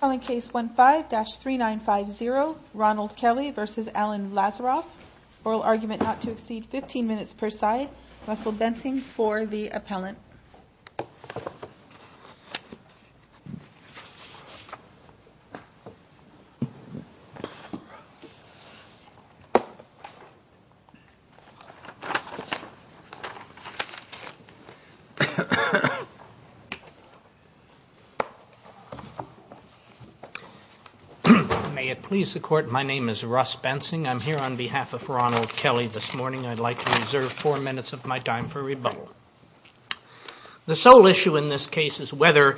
Oral argument not to exceed 15 minutes per side. Russell Bensing for the appellant. May it please the court, my name is Russ Bensing. I'm here on behalf of Ronald Kelly this morning. I'd like to reserve four minutes of my time for rebuttal. The sole issue in this case is whether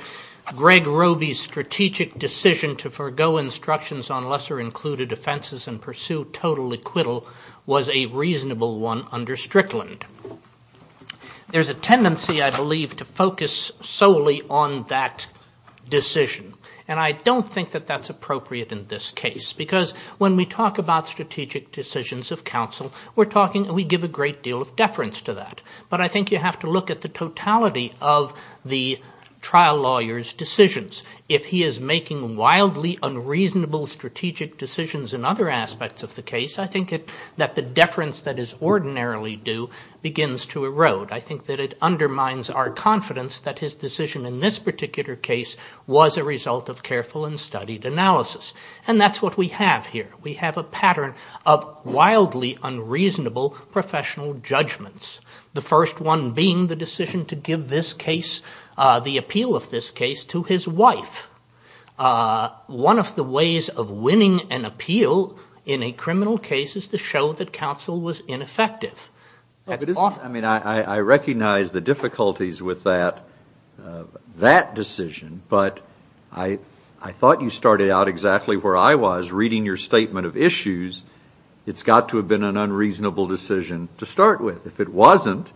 Greg Roby's strategic decision to forego instructions on lesser included offenses and pursue total acquittal was a reasonable one under Strickland. There's a tendency, I believe, to focus solely on that decision. And I don't think that that's appropriate in this case. Because when we talk about strategic decisions of counsel, we're talking, we give a great deal of deference to that. But I think you have to look at the totality of the trial lawyer's decisions. If he is making wildly unreasonable strategic decisions in other aspects of the case, I think that the deference that is ordinarily due begins to erode. I think that it undermines our confidence that his decision in this particular case was a result of careful and studied analysis. And that's what we have here. We have a pattern of wildly unreasonable professional judgments. The first one being the decision to give this case, the appeal of this case, to his wife. One of the ways of winning an appeal in a criminal case is to show that counsel was ineffective. I mean, I recognize the difficulties with that decision. But I thought you started out exactly where I was, reading your statement of issues. It's got to have been an unreasonable decision to start with. If it wasn't,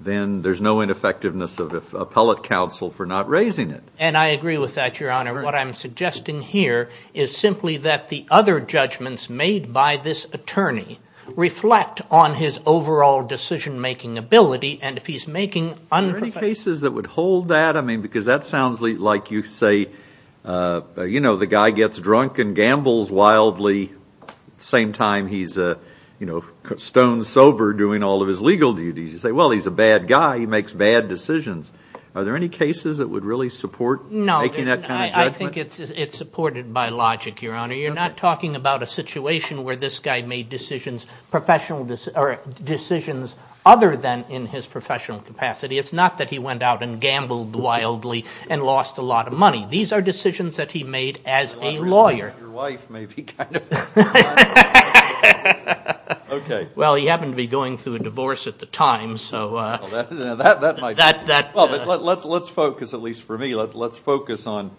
then there's no ineffectiveness of appellate counsel for not raising it. And I agree with that, Your Honor. What I'm suggesting here is simply that the other judgments made by this attorney reflect on his overall decision-making ability. And if he's making unprofessional decisions. Are there any cases that would hold that? I mean, because that sounds like you say, you know, the guy gets drunk and gambles wildly. At the same time, he's, you know, stone sober doing all of his legal duties. You say, well, he's a bad guy. He makes bad decisions. Are there any cases that would really support making that kind of judgment? I think it's supported by logic, Your Honor. You're not talking about a situation where this guy made decisions, professional decisions, or decisions other than in his professional capacity. It's not that he went out and gambled wildly and lost a lot of money. These are decisions that he made as a lawyer. Your wife may be kind of. Okay. Well, he happened to be going through a divorce at the time, so. Well, let's focus, at least for me, let's focus on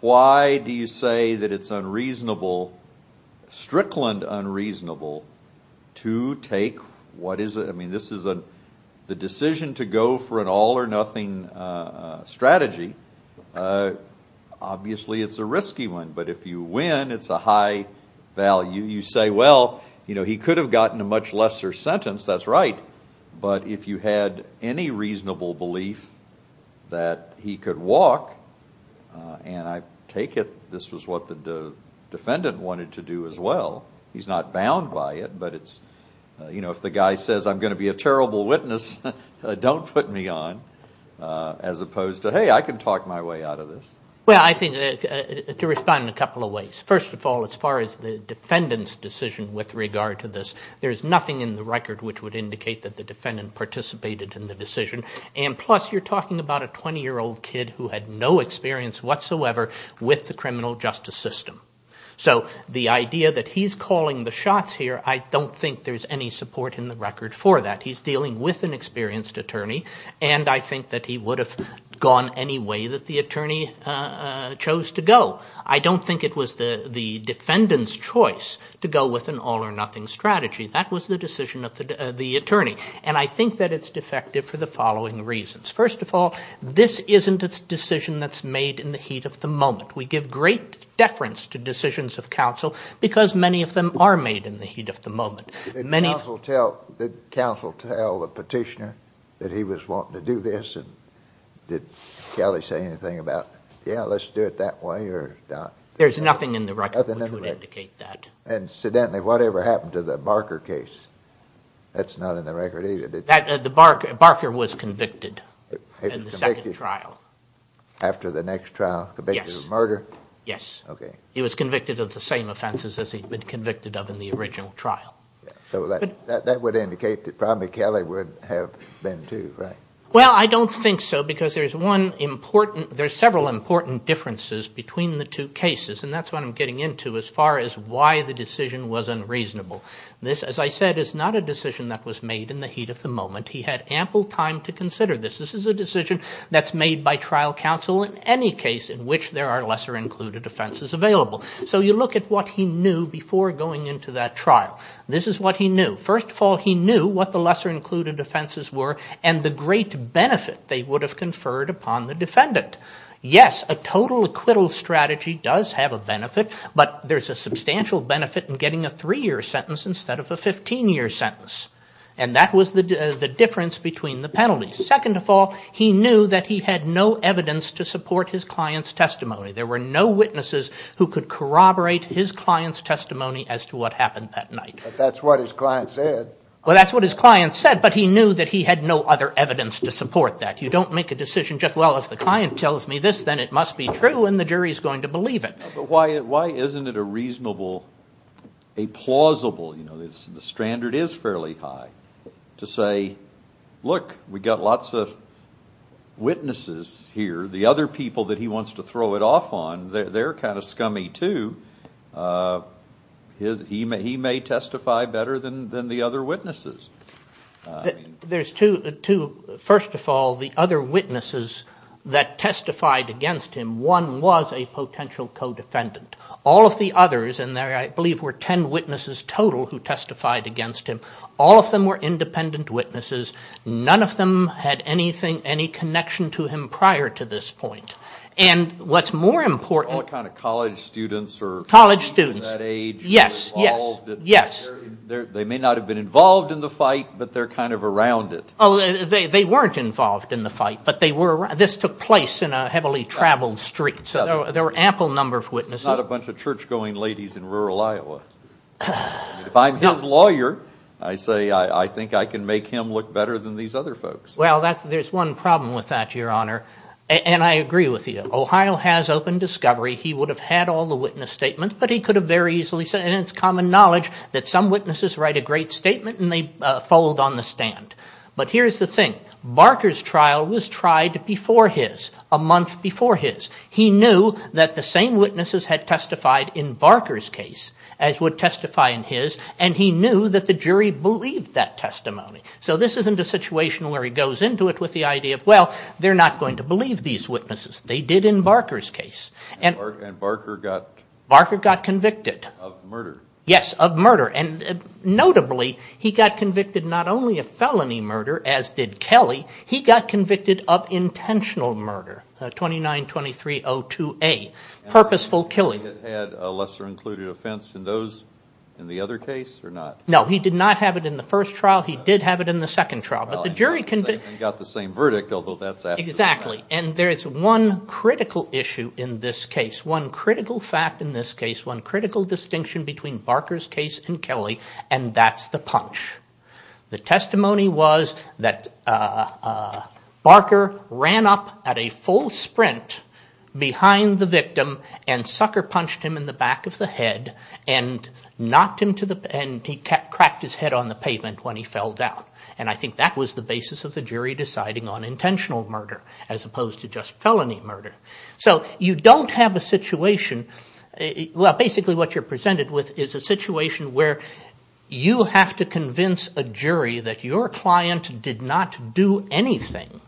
why do you say that it's unreasonable, strickland unreasonable, to take, what is it? I mean, this is the decision to go for an all or nothing strategy. Obviously, it's a risky one. But if you win, it's a high value. You say, well, you know, he could have gotten a much lesser sentence. That's right. But if you had any reasonable belief that he could walk, and I take it this was what the defendant wanted to do as well. He's not bound by it, but it's, you know, if the guy says, I'm going to be a terrible witness, don't put me on, as opposed to, hey, I can talk my way out of this. Well, I think, to respond in a couple of ways. First of all, as far as the defendant's decision with regard to this, there's nothing in the record which would indicate that the defendant participated in the decision. And plus, you're talking about a 20-year-old kid who had no experience whatsoever with the criminal justice system. So the idea that he's calling the shots here, I don't think there's any support in the record for that. He's dealing with an experienced attorney, and I think that he would have gone any way that the attorney chose to go. I don't think it was the defendant's choice to go with an all-or-nothing strategy. That was the decision of the attorney. And I think that it's defective for the following reasons. First of all, this isn't a decision that's made in the heat of the moment. We give great deference to decisions of counsel because many of them are made in the heat of the moment. Did counsel tell the petitioner that he was wanting to do this? And did Kelly say anything about, yeah, let's do it that way or not? There's nothing in the record which would indicate that. Incidentally, whatever happened to the Barker case, that's not in the record either, did it? Barker was convicted in the second trial. After the next trial, convicted of murder? Yes. Okay. He was convicted of the same offenses as he'd been convicted of in the original trial. So that would indicate that probably Kelly would have been too, right? Well, I don't think so because there's one important – there's several important differences between the two cases, and that's what I'm getting into as far as why the decision was unreasonable. This, as I said, is not a decision that was made in the heat of the moment. He had ample time to consider this. This is a decision that's made by trial counsel in any case in which there are lesser included offenses available. So you look at what he knew before going into that trial. This is what he knew. First of all, he knew what the lesser included offenses were and the great benefit they would have conferred upon the defendant. Yes, a total acquittal strategy does have a benefit, but there's a substantial benefit in getting a three-year sentence instead of a 15-year sentence, and that was the difference between the penalties. Second of all, he knew that he had no evidence to support his client's testimony. There were no witnesses who could corroborate his client's testimony as to what happened that night. But that's what his client said. Well, that's what his client said, but he knew that he had no other evidence to support that. You don't make a decision just, well, if the client tells me this, then it must be true, and the jury's going to believe it. But why isn't it a reasonable – a plausible – you know, the standard is fairly high to say, look, we've got lots of witnesses here. The other people that he wants to throw it off on, they're kind of scummy too. He may testify better than the other witnesses. There's two. First of all, the other witnesses that testified against him, one was a potential co-defendant. All of the others, and there I believe were ten witnesses total who testified against him, all of them were independent witnesses. None of them had anything, any connection to him prior to this point. And what's more important – All kind of college students or – College students. In that age. Yes, yes, yes. They may not have been involved in the fight, but they're kind of around it. Oh, they weren't involved in the fight, but they were – this took place in a heavily traveled street. So there were ample number of witnesses. It's not a bunch of church-going ladies in rural Iowa. If I'm his lawyer, I say I think I can make him look better than these other folks. Well, there's one problem with that, Your Honor, and I agree with you. Ohio has open discovery. He would have had all the witness statements, but he could have very easily said – and it's common knowledge that some witnesses write a great statement and they fold on the stand. But here's the thing. Barker's trial was tried before his, a month before his. He knew that the same witnesses had testified in Barker's case, as would testify in his, and he knew that the jury believed that testimony. So this isn't a situation where he goes into it with the idea of, well, they're not going to believe these witnesses. They did in Barker's case. And Barker got – Barker got convicted. Of murder. Yes, of murder. And notably, he got convicted not only of felony murder, as did Kelly, he got convicted of intentional murder, 29-2302A, purposeful killing. Had a lesser-included offense in those – in the other case or not? No, he did not have it in the first trial. He did have it in the second trial. But the jury – Well, they got the same verdict, although that's absolutely right. Exactly. And there is one critical issue in this case, one critical fact in this case, one critical distinction between Barker's case and Kelly, and that's the punch. The testimony was that Barker ran up at a full sprint behind the victim and sucker-punched him in the back of the head and knocked him to the – and he cracked his head on the pavement when he fell down. And I think that was the basis of the jury deciding on intentional murder as opposed to just felony murder. So you don't have a situation – well, basically what you're presented with is a situation where you have to convince a jury that your client did not do anything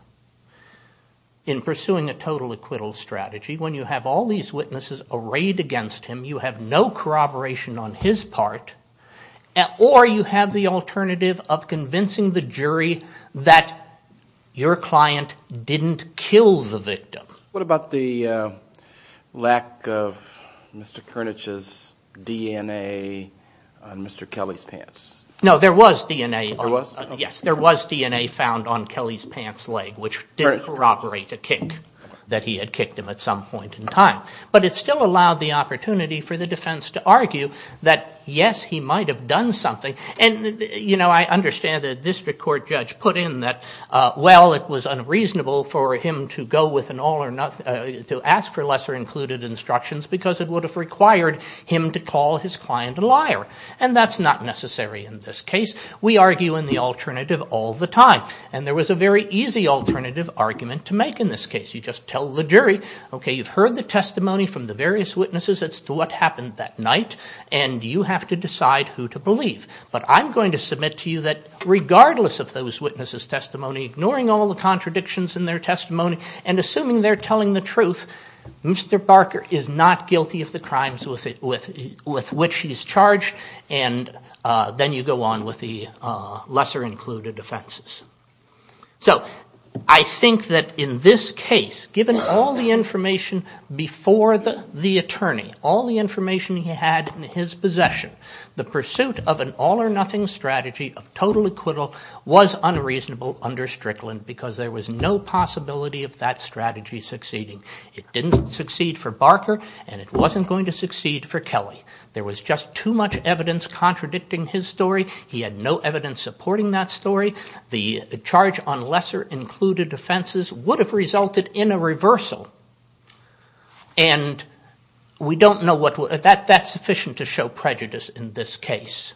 in pursuing a total acquittal strategy when you have all these witnesses arrayed against him, you have no corroboration on his part, or you have the alternative of convincing the jury that your client didn't kill the victim. What about the lack of Mr. Koenig's DNA on Mr. Kelly's pants? No, there was DNA. There was? Yes, there was DNA found on Kelly's pants leg, which didn't corroborate a kick, that he had kicked him at some point in time. But it still allowed the opportunity for the defense to argue that, yes, he might have done something. Well, it was unreasonable for him to ask for lesser included instructions because it would have required him to call his client a liar. And that's not necessary in this case. We argue in the alternative all the time. And there was a very easy alternative argument to make in this case. You just tell the jury, okay, you've heard the testimony from the various witnesses as to what happened that night, and you have to decide who to believe. And ignoring all the contradictions in their testimony and assuming they're telling the truth, Mr. Barker is not guilty of the crimes with which he's charged, and then you go on with the lesser included offenses. So I think that in this case, given all the information before the attorney, all the information he had in his possession, the pursuit of an all or nothing strategy of total acquittal was unreasonable under Strickland because there was no possibility of that strategy succeeding. It didn't succeed for Barker, and it wasn't going to succeed for Kelly. There was just too much evidence contradicting his story. He had no evidence supporting that story. The charge on lesser included offenses would have resulted in a reversal. And we don't know what we're going to do. That's sufficient to show prejudice in this case.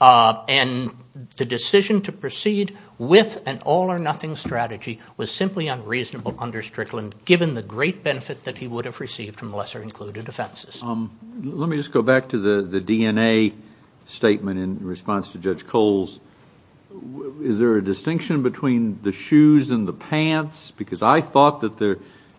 And the decision to proceed with an all or nothing strategy was simply unreasonable under Strickland, given the great benefit that he would have received from lesser included offenses. Let me just go back to the DNA statement in response to Judge Kohl's. Is there a distinction between the shoes and the pants? Because I thought that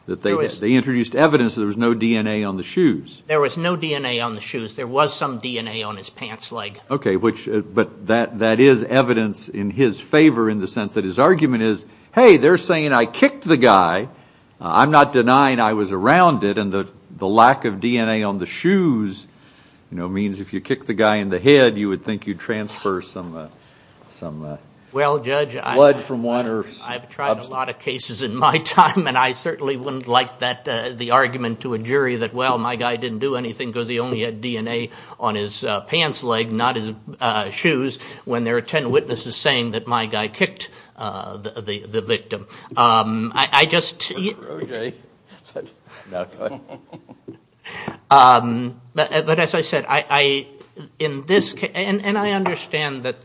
they introduced evidence that there was no DNA on the shoes. There was no DNA on the shoes. There was some DNA on his pants leg. Okay. But that is evidence in his favor in the sense that his argument is, hey, they're saying I kicked the guy. I'm not denying I was around it. And the lack of DNA on the shoes, you know, means if you kick the guy in the head, you would think you'd transfer some blood from one. I've tried a lot of cases in my time, and I certainly wouldn't like the argument to a jury that, well, my guy didn't do anything because he only had DNA on his pants leg, not his shoes, when there are ten witnesses saying that my guy kicked the victim. I just. Okay. But as I said, in this case, and I understand that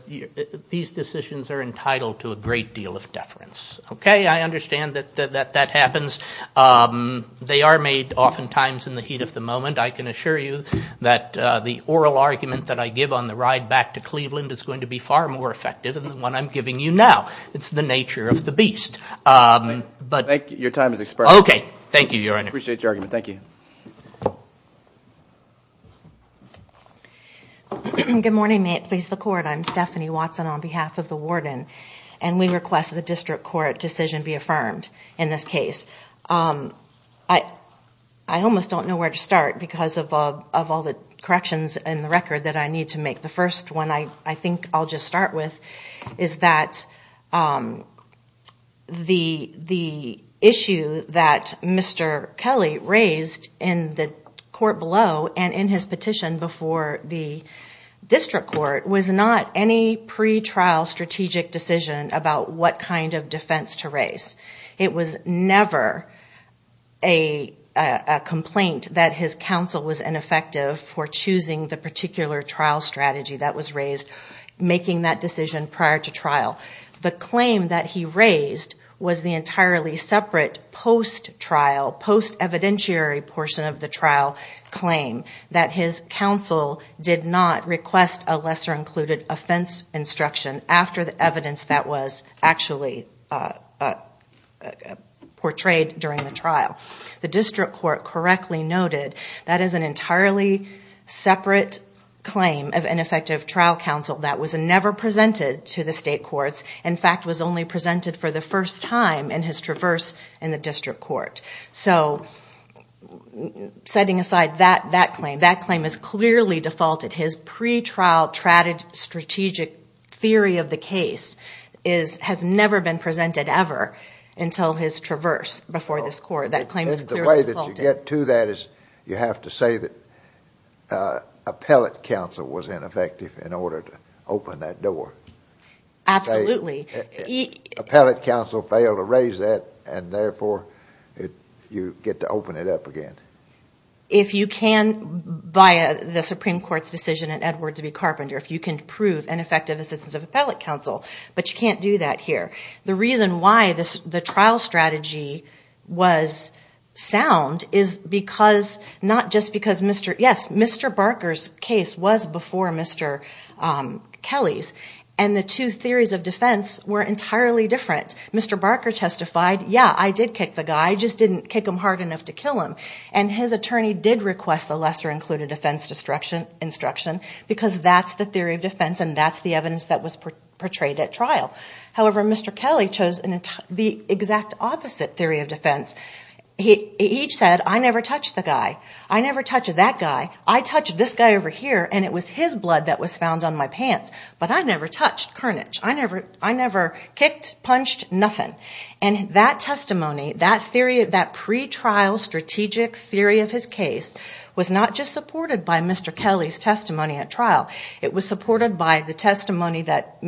these decisions are entitled to a great deal of deference. Okay. I understand that that happens. They are made oftentimes in the heat of the moment. I can assure you that the oral argument that I give on the ride back to Cleveland is going to be far more effective than the one I'm giving you now. It's the nature of the beast. Your time has expired. Okay. Thank you, Your Honor. Appreciate your argument. Thank you. Good morning. May it please the Court. I'm Stephanie Watson on behalf of the warden, and we request that the district court decision be affirmed in this case. I almost don't know where to start because of all the corrections in the record that I need to make. The first one I think I'll just start with is that the issue that Mr. Kelly raised in the court below and in his petition before the district court was not any pretrial strategic decision about what kind of defense to raise. It was never a complaint that his counsel was ineffective for choosing the particular trial strategy that was raised, making that decision prior to trial. The claim that he raised was the entirely separate post-trial, post-evidentiary portion of the trial claim that his counsel did not request a lesser included offense instruction after the evidence that was actually portrayed during the trial. The district court correctly noted that is an entirely separate claim of ineffective trial counsel that was never presented to the state courts, in fact was only presented for the first time in his traverse in the district court. So setting aside that claim, that claim is clearly defaulted. And his pretrial strategic theory of the case has never been presented ever until his traverse before this court. That claim is clearly defaulted. The way that you get to that is you have to say that appellate counsel was ineffective in order to open that door. Absolutely. Appellate counsel failed to raise that and therefore you get to open it up again. If you can, by the Supreme Court's decision in Edwards v. Carpenter, if you can prove ineffective assistance of appellate counsel, but you can't do that here. The reason why the trial strategy was sound is because, not just because Mr. Barker's case was before Mr. Kelly's, and the two theories of defense were entirely different. Mr. Barker testified, yeah, I did kick the guy. I just didn't kick him hard enough to kill him. And his attorney did request the lesser included offense instruction because that's the theory of defense and that's the evidence that was portrayed at trial. However, Mr. Kelly chose the exact opposite theory of defense. He said, I never touched the guy. I never touched that guy. I touched this guy over here and it was his blood that was found on my pants. But I never touched Carnage. I never kicked, punched, nothing. And that testimony, that pre-trial strategic theory of his case, was not just supported by Mr. Kelly's testimony at trial. It was supported by the testimony that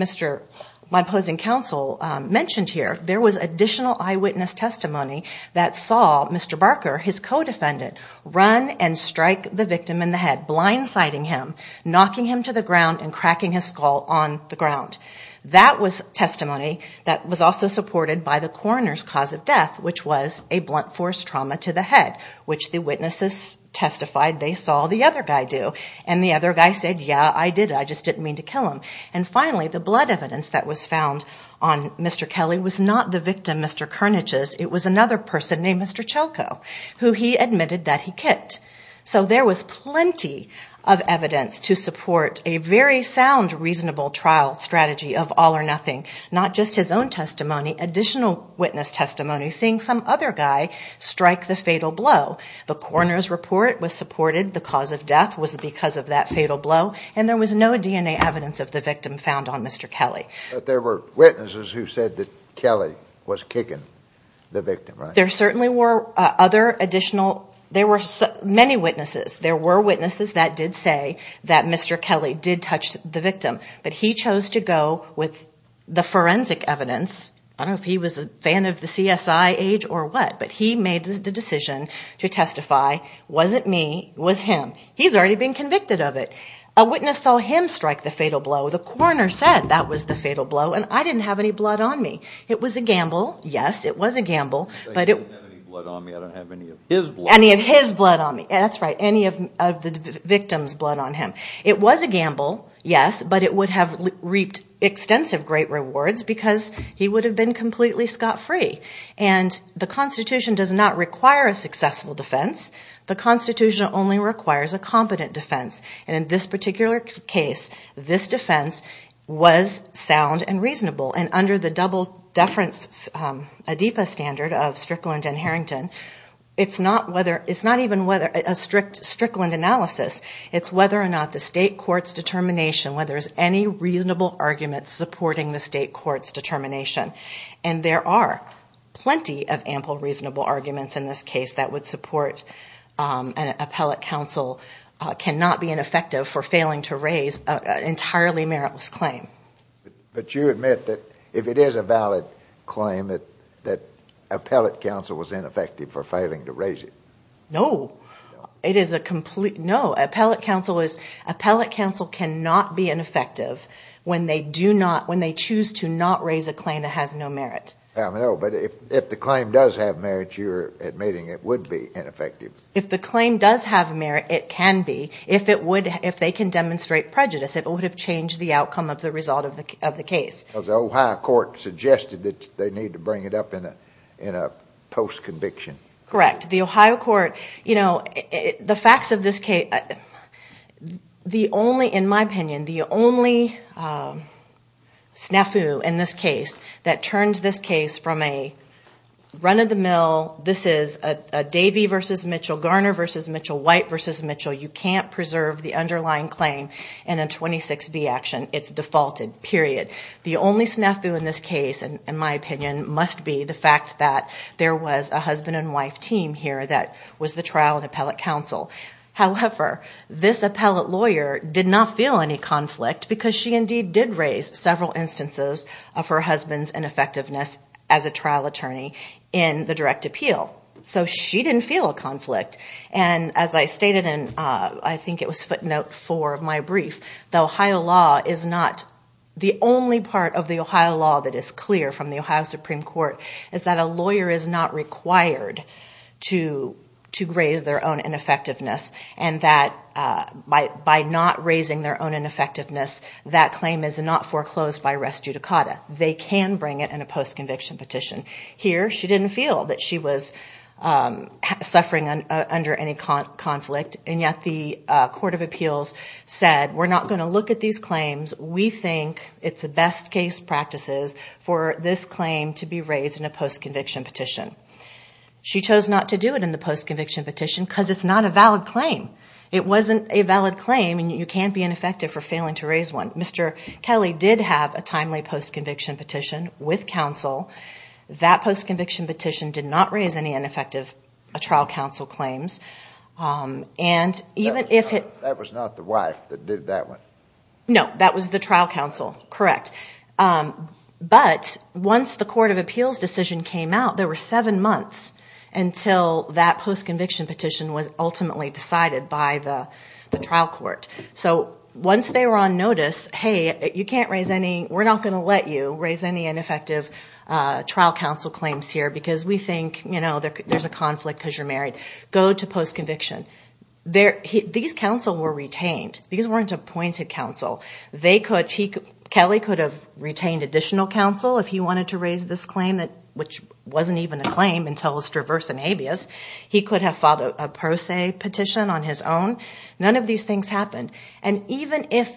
my opposing counsel mentioned here. There was additional eyewitness testimony that saw Mr. Barker, his co-defendant, run and strike the victim in the head, blindsiding him, knocking him to the ground, and cracking his skull on the ground. That was testimony that was also supported by the coroner's cause of death, which was a blunt force trauma to the head, which the witnesses testified they saw the other guy do. And the other guy said, yeah, I did. I just didn't mean to kill him. And finally, the blood evidence that was found on Mr. Kelly was not the victim, Mr. Carnage's. It was another person named Mr. Chelko, who he admitted that he kicked. So there was plenty of evidence to support a very sound, reasonable trial strategy of all or nothing, not just his own testimony, additional witness testimony, seeing some other guy strike the fatal blow. The coroner's report was supported the cause of death was because of that fatal blow, and there was no DNA evidence of the victim found on Mr. Kelly. But there were witnesses who said that Kelly was kicking the victim, right? There certainly were other additional, there were many witnesses. There were witnesses that did say that Mr. Kelly did touch the victim, but he chose to go with the forensic evidence. I don't know if he was a fan of the CSI age or what, but he made the decision to testify, wasn't me, was him. He's already been convicted of it. A witness saw him strike the fatal blow. The coroner said that was the fatal blow, and I didn't have any blood on me. It was a gamble. Yes, it was a gamble. He didn't have any blood on me. I don't have any of his blood. Any of his blood on me. That's right, any of the victim's blood on him. It was a gamble, yes, but it would have reaped extensive great rewards because he would have been completely scot-free. And the Constitution does not require a successful defense. The Constitution only requires a competent defense. And in this particular case, this defense was sound and reasonable, and under the double-deference ADEPA standard of Strickland and Harrington, it's not even a Strickland analysis. It's whether or not the state court's determination, whether there's any reasonable argument supporting the state court's determination. And there are plenty of ample reasonable arguments in this case that would support an appellate counsel cannot being effective for failing to raise an entirely meritless claim. But you admit that if it is a valid claim, that appellate counsel was ineffective for failing to raise it. No, it is a complete no. Appellate counsel cannot be ineffective when they choose to not raise a claim that has no merit. No, but if the claim does have merit, you're admitting it would be ineffective. If the claim does have merit, it can be. If they can demonstrate prejudice, it would have changed the outcome of the result of the case. Because the Ohio court suggested that they need to bring it up in a post-conviction. Correct. The Ohio court, you know, the facts of this case, the only, in my opinion, the only snafu in this case that turns this case from a run-of-the-mill, this is a Davey v. Mitchell, Garner v. Mitchell, White v. Mitchell, you can't preserve the underlying claim in a 26B action. It's defaulted, period. The only snafu in this case, in my opinion, must be the fact that there was a husband and wife team here that was the trial and appellate counsel. However, this appellate lawyer did not feel any conflict because she indeed did raise several instances of her husband's ineffectiveness as a trial attorney in the direct appeal. So she didn't feel a conflict. And as I stated in, I think it was footnote four of my brief, the Ohio law is not the only part of the Ohio law that is clear from the Ohio Supreme Court is that a lawyer is not required to raise their own ineffectiveness and that by not raising their own ineffectiveness, that claim is not foreclosed by res judicata. They can bring it in a post-conviction petition. Here, she didn't feel that she was suffering under any conflict, and yet the court of appeals said we're not going to look at these claims. We think it's best case practices for this claim to be raised in a post-conviction petition. She chose not to do it in the post-conviction petition because it's not a valid claim. It wasn't a valid claim, and you can't be ineffective for failing to raise one. Mr. Kelly did have a timely post-conviction petition with counsel that post-conviction petition did not raise any ineffective trial counsel claims. That was not the wife that did that one? No, that was the trial counsel, correct. But once the court of appeals decision came out, there were seven months until that post-conviction petition was ultimately decided by the trial court. So once they were on notice, hey, you can't raise any, we're not going to let you raise any ineffective trial counsel claims here because we think there's a conflict because you're married. Go to post-conviction. These counsel were retained. These weren't appointed counsel. Kelly could have retained additional counsel if he wanted to raise this claim, which wasn't even a claim until his traverse in habeas. He could have filed a pro se petition on his own. None of these things happened. And even if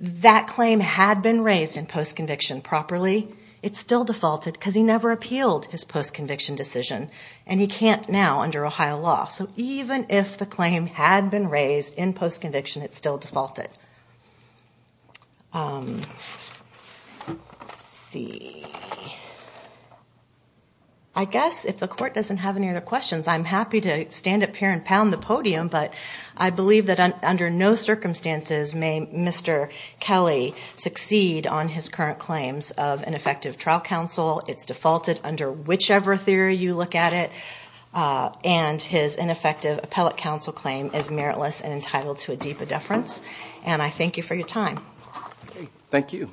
that claim had been raised in post-conviction properly, it still defaulted because he never appealed his post-conviction decision, and he can't now under Ohio law. So even if the claim had been raised in post-conviction, it still defaulted. I guess if the court doesn't have any other questions, I believe that under no circumstances may Mr. Kelly succeed on his current claims of ineffective trial counsel. It's defaulted under whichever theory you look at it, and his ineffective appellate counsel claim is meritless and entitled to a deeper deference. And I thank you for your time. Thank you.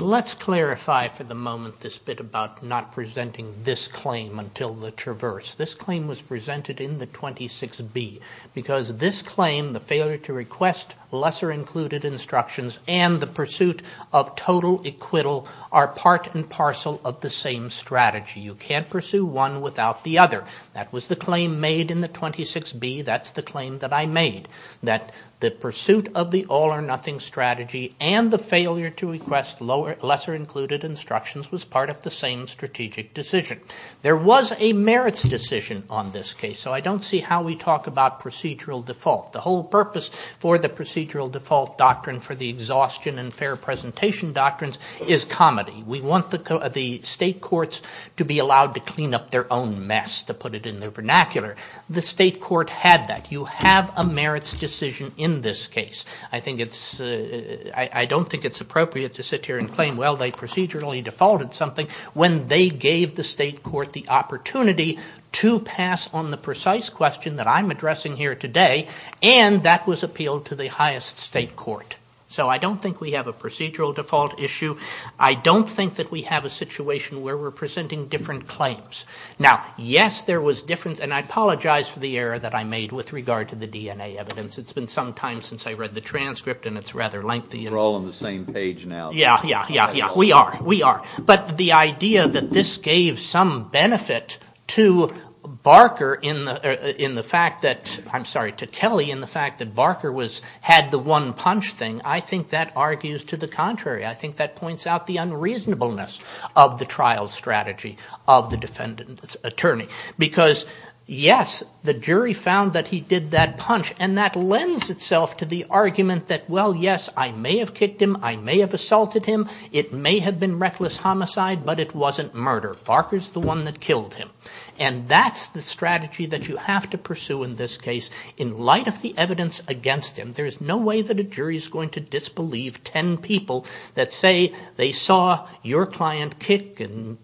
Let's clarify for the moment this bit about not presenting this claim until the traverse. This claim was presented in the 26B because this claim, the failure to request lesser included instructions and the pursuit of total acquittal are part and parcel of the same strategy. You can't pursue one without the other. That was the claim made in the 26B. That's the claim that I made, that the pursuit of the all or nothing strategy and the failure to request lesser included instructions was part of the same strategic decision. There was a merits decision on this case, so I don't see how we talk about procedural default. The whole purpose for the procedural default doctrine for the exhaustion and fair presentation doctrines is comedy. We want the state courts to be allowed to clean up their own mess, to put it in their vernacular. The state court had that. You have a merits decision in this case. I don't think it's appropriate to sit here and claim, well, they procedurally defaulted something when they gave the state court the opportunity to pass on the precise question that I'm addressing here today and that was appealed to the highest state court. So I don't think we have a procedural default issue. I don't think that we have a situation where we're presenting different claims. Now, yes, there was difference, and I apologize for the error that I made with regard to the DNA evidence. It's been some time since I read the transcript and it's rather lengthy. We're all on the same page now. Yeah, yeah, yeah, yeah. We are, we are. But the idea that this gave some benefit to Barker in the fact that, I'm sorry, to Kelly in the fact that Barker had the one punch thing, I think that argues to the contrary. I think that points out the unreasonableness of the trial strategy of the defendant's attorney. Because, yes, the jury found that he did that punch and that lends itself to the argument that, well, yes, I may have kicked him, I may have assaulted him, it may have been reckless homicide, but it wasn't murder. Barker's the one that killed him. And that's the strategy that you have to pursue in this case. In light of the evidence against him, there is no way that a jury is going to disbelieve ten people that say they saw your client kick and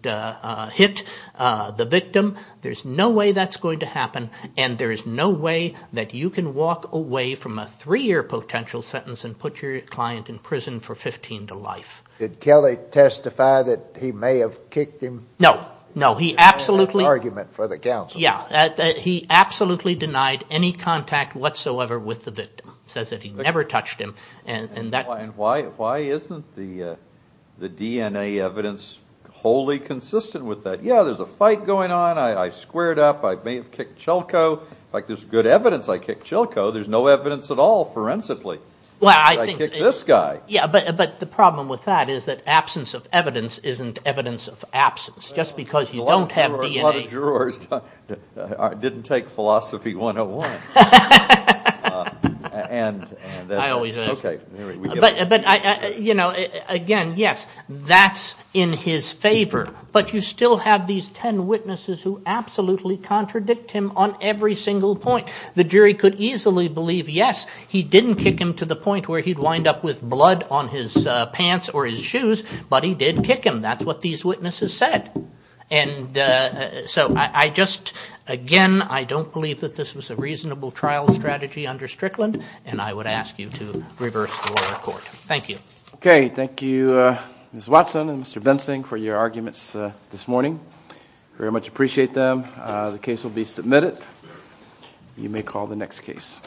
hit the victim. There's no way that's going to happen, and there is no way that you can walk away from a three-year potential sentence and put your client in prison for 15 to life. Did Kelly testify that he may have kicked him? No. No, he absolutely. That's an argument for the counsel. Yeah. He absolutely denied any contact whatsoever with the victim. He says that he never touched him. And why isn't the DNA evidence wholly consistent with that? Yeah, there's a fight going on. I squared up. I may have kicked Chilko. In fact, there's good evidence I kicked Chilko. There's no evidence at all forensically that I kicked this guy. Yeah, but the problem with that is that absence of evidence isn't evidence of absence. Just because you don't have DNA. A lot of jurors didn't take Philosophy 101. I always ask. But, you know, again, yes, that's in his favor, but you still have these ten witnesses who absolutely contradict him on every single point. The jury could easily believe, yes, he didn't kick him to the point where he'd wind up with blood on his pants or his shoes, but he did kick him. That's what these witnesses said. And so I just, again, I don't believe that this was a reasonable trial strategy under Strickland, and I would ask you to reverse the lower court. Thank you. Okay, thank you, Ms. Watson and Mr. Bensing, for your arguments this morning. Very much appreciate them. The case will be submitted. You may call the next case.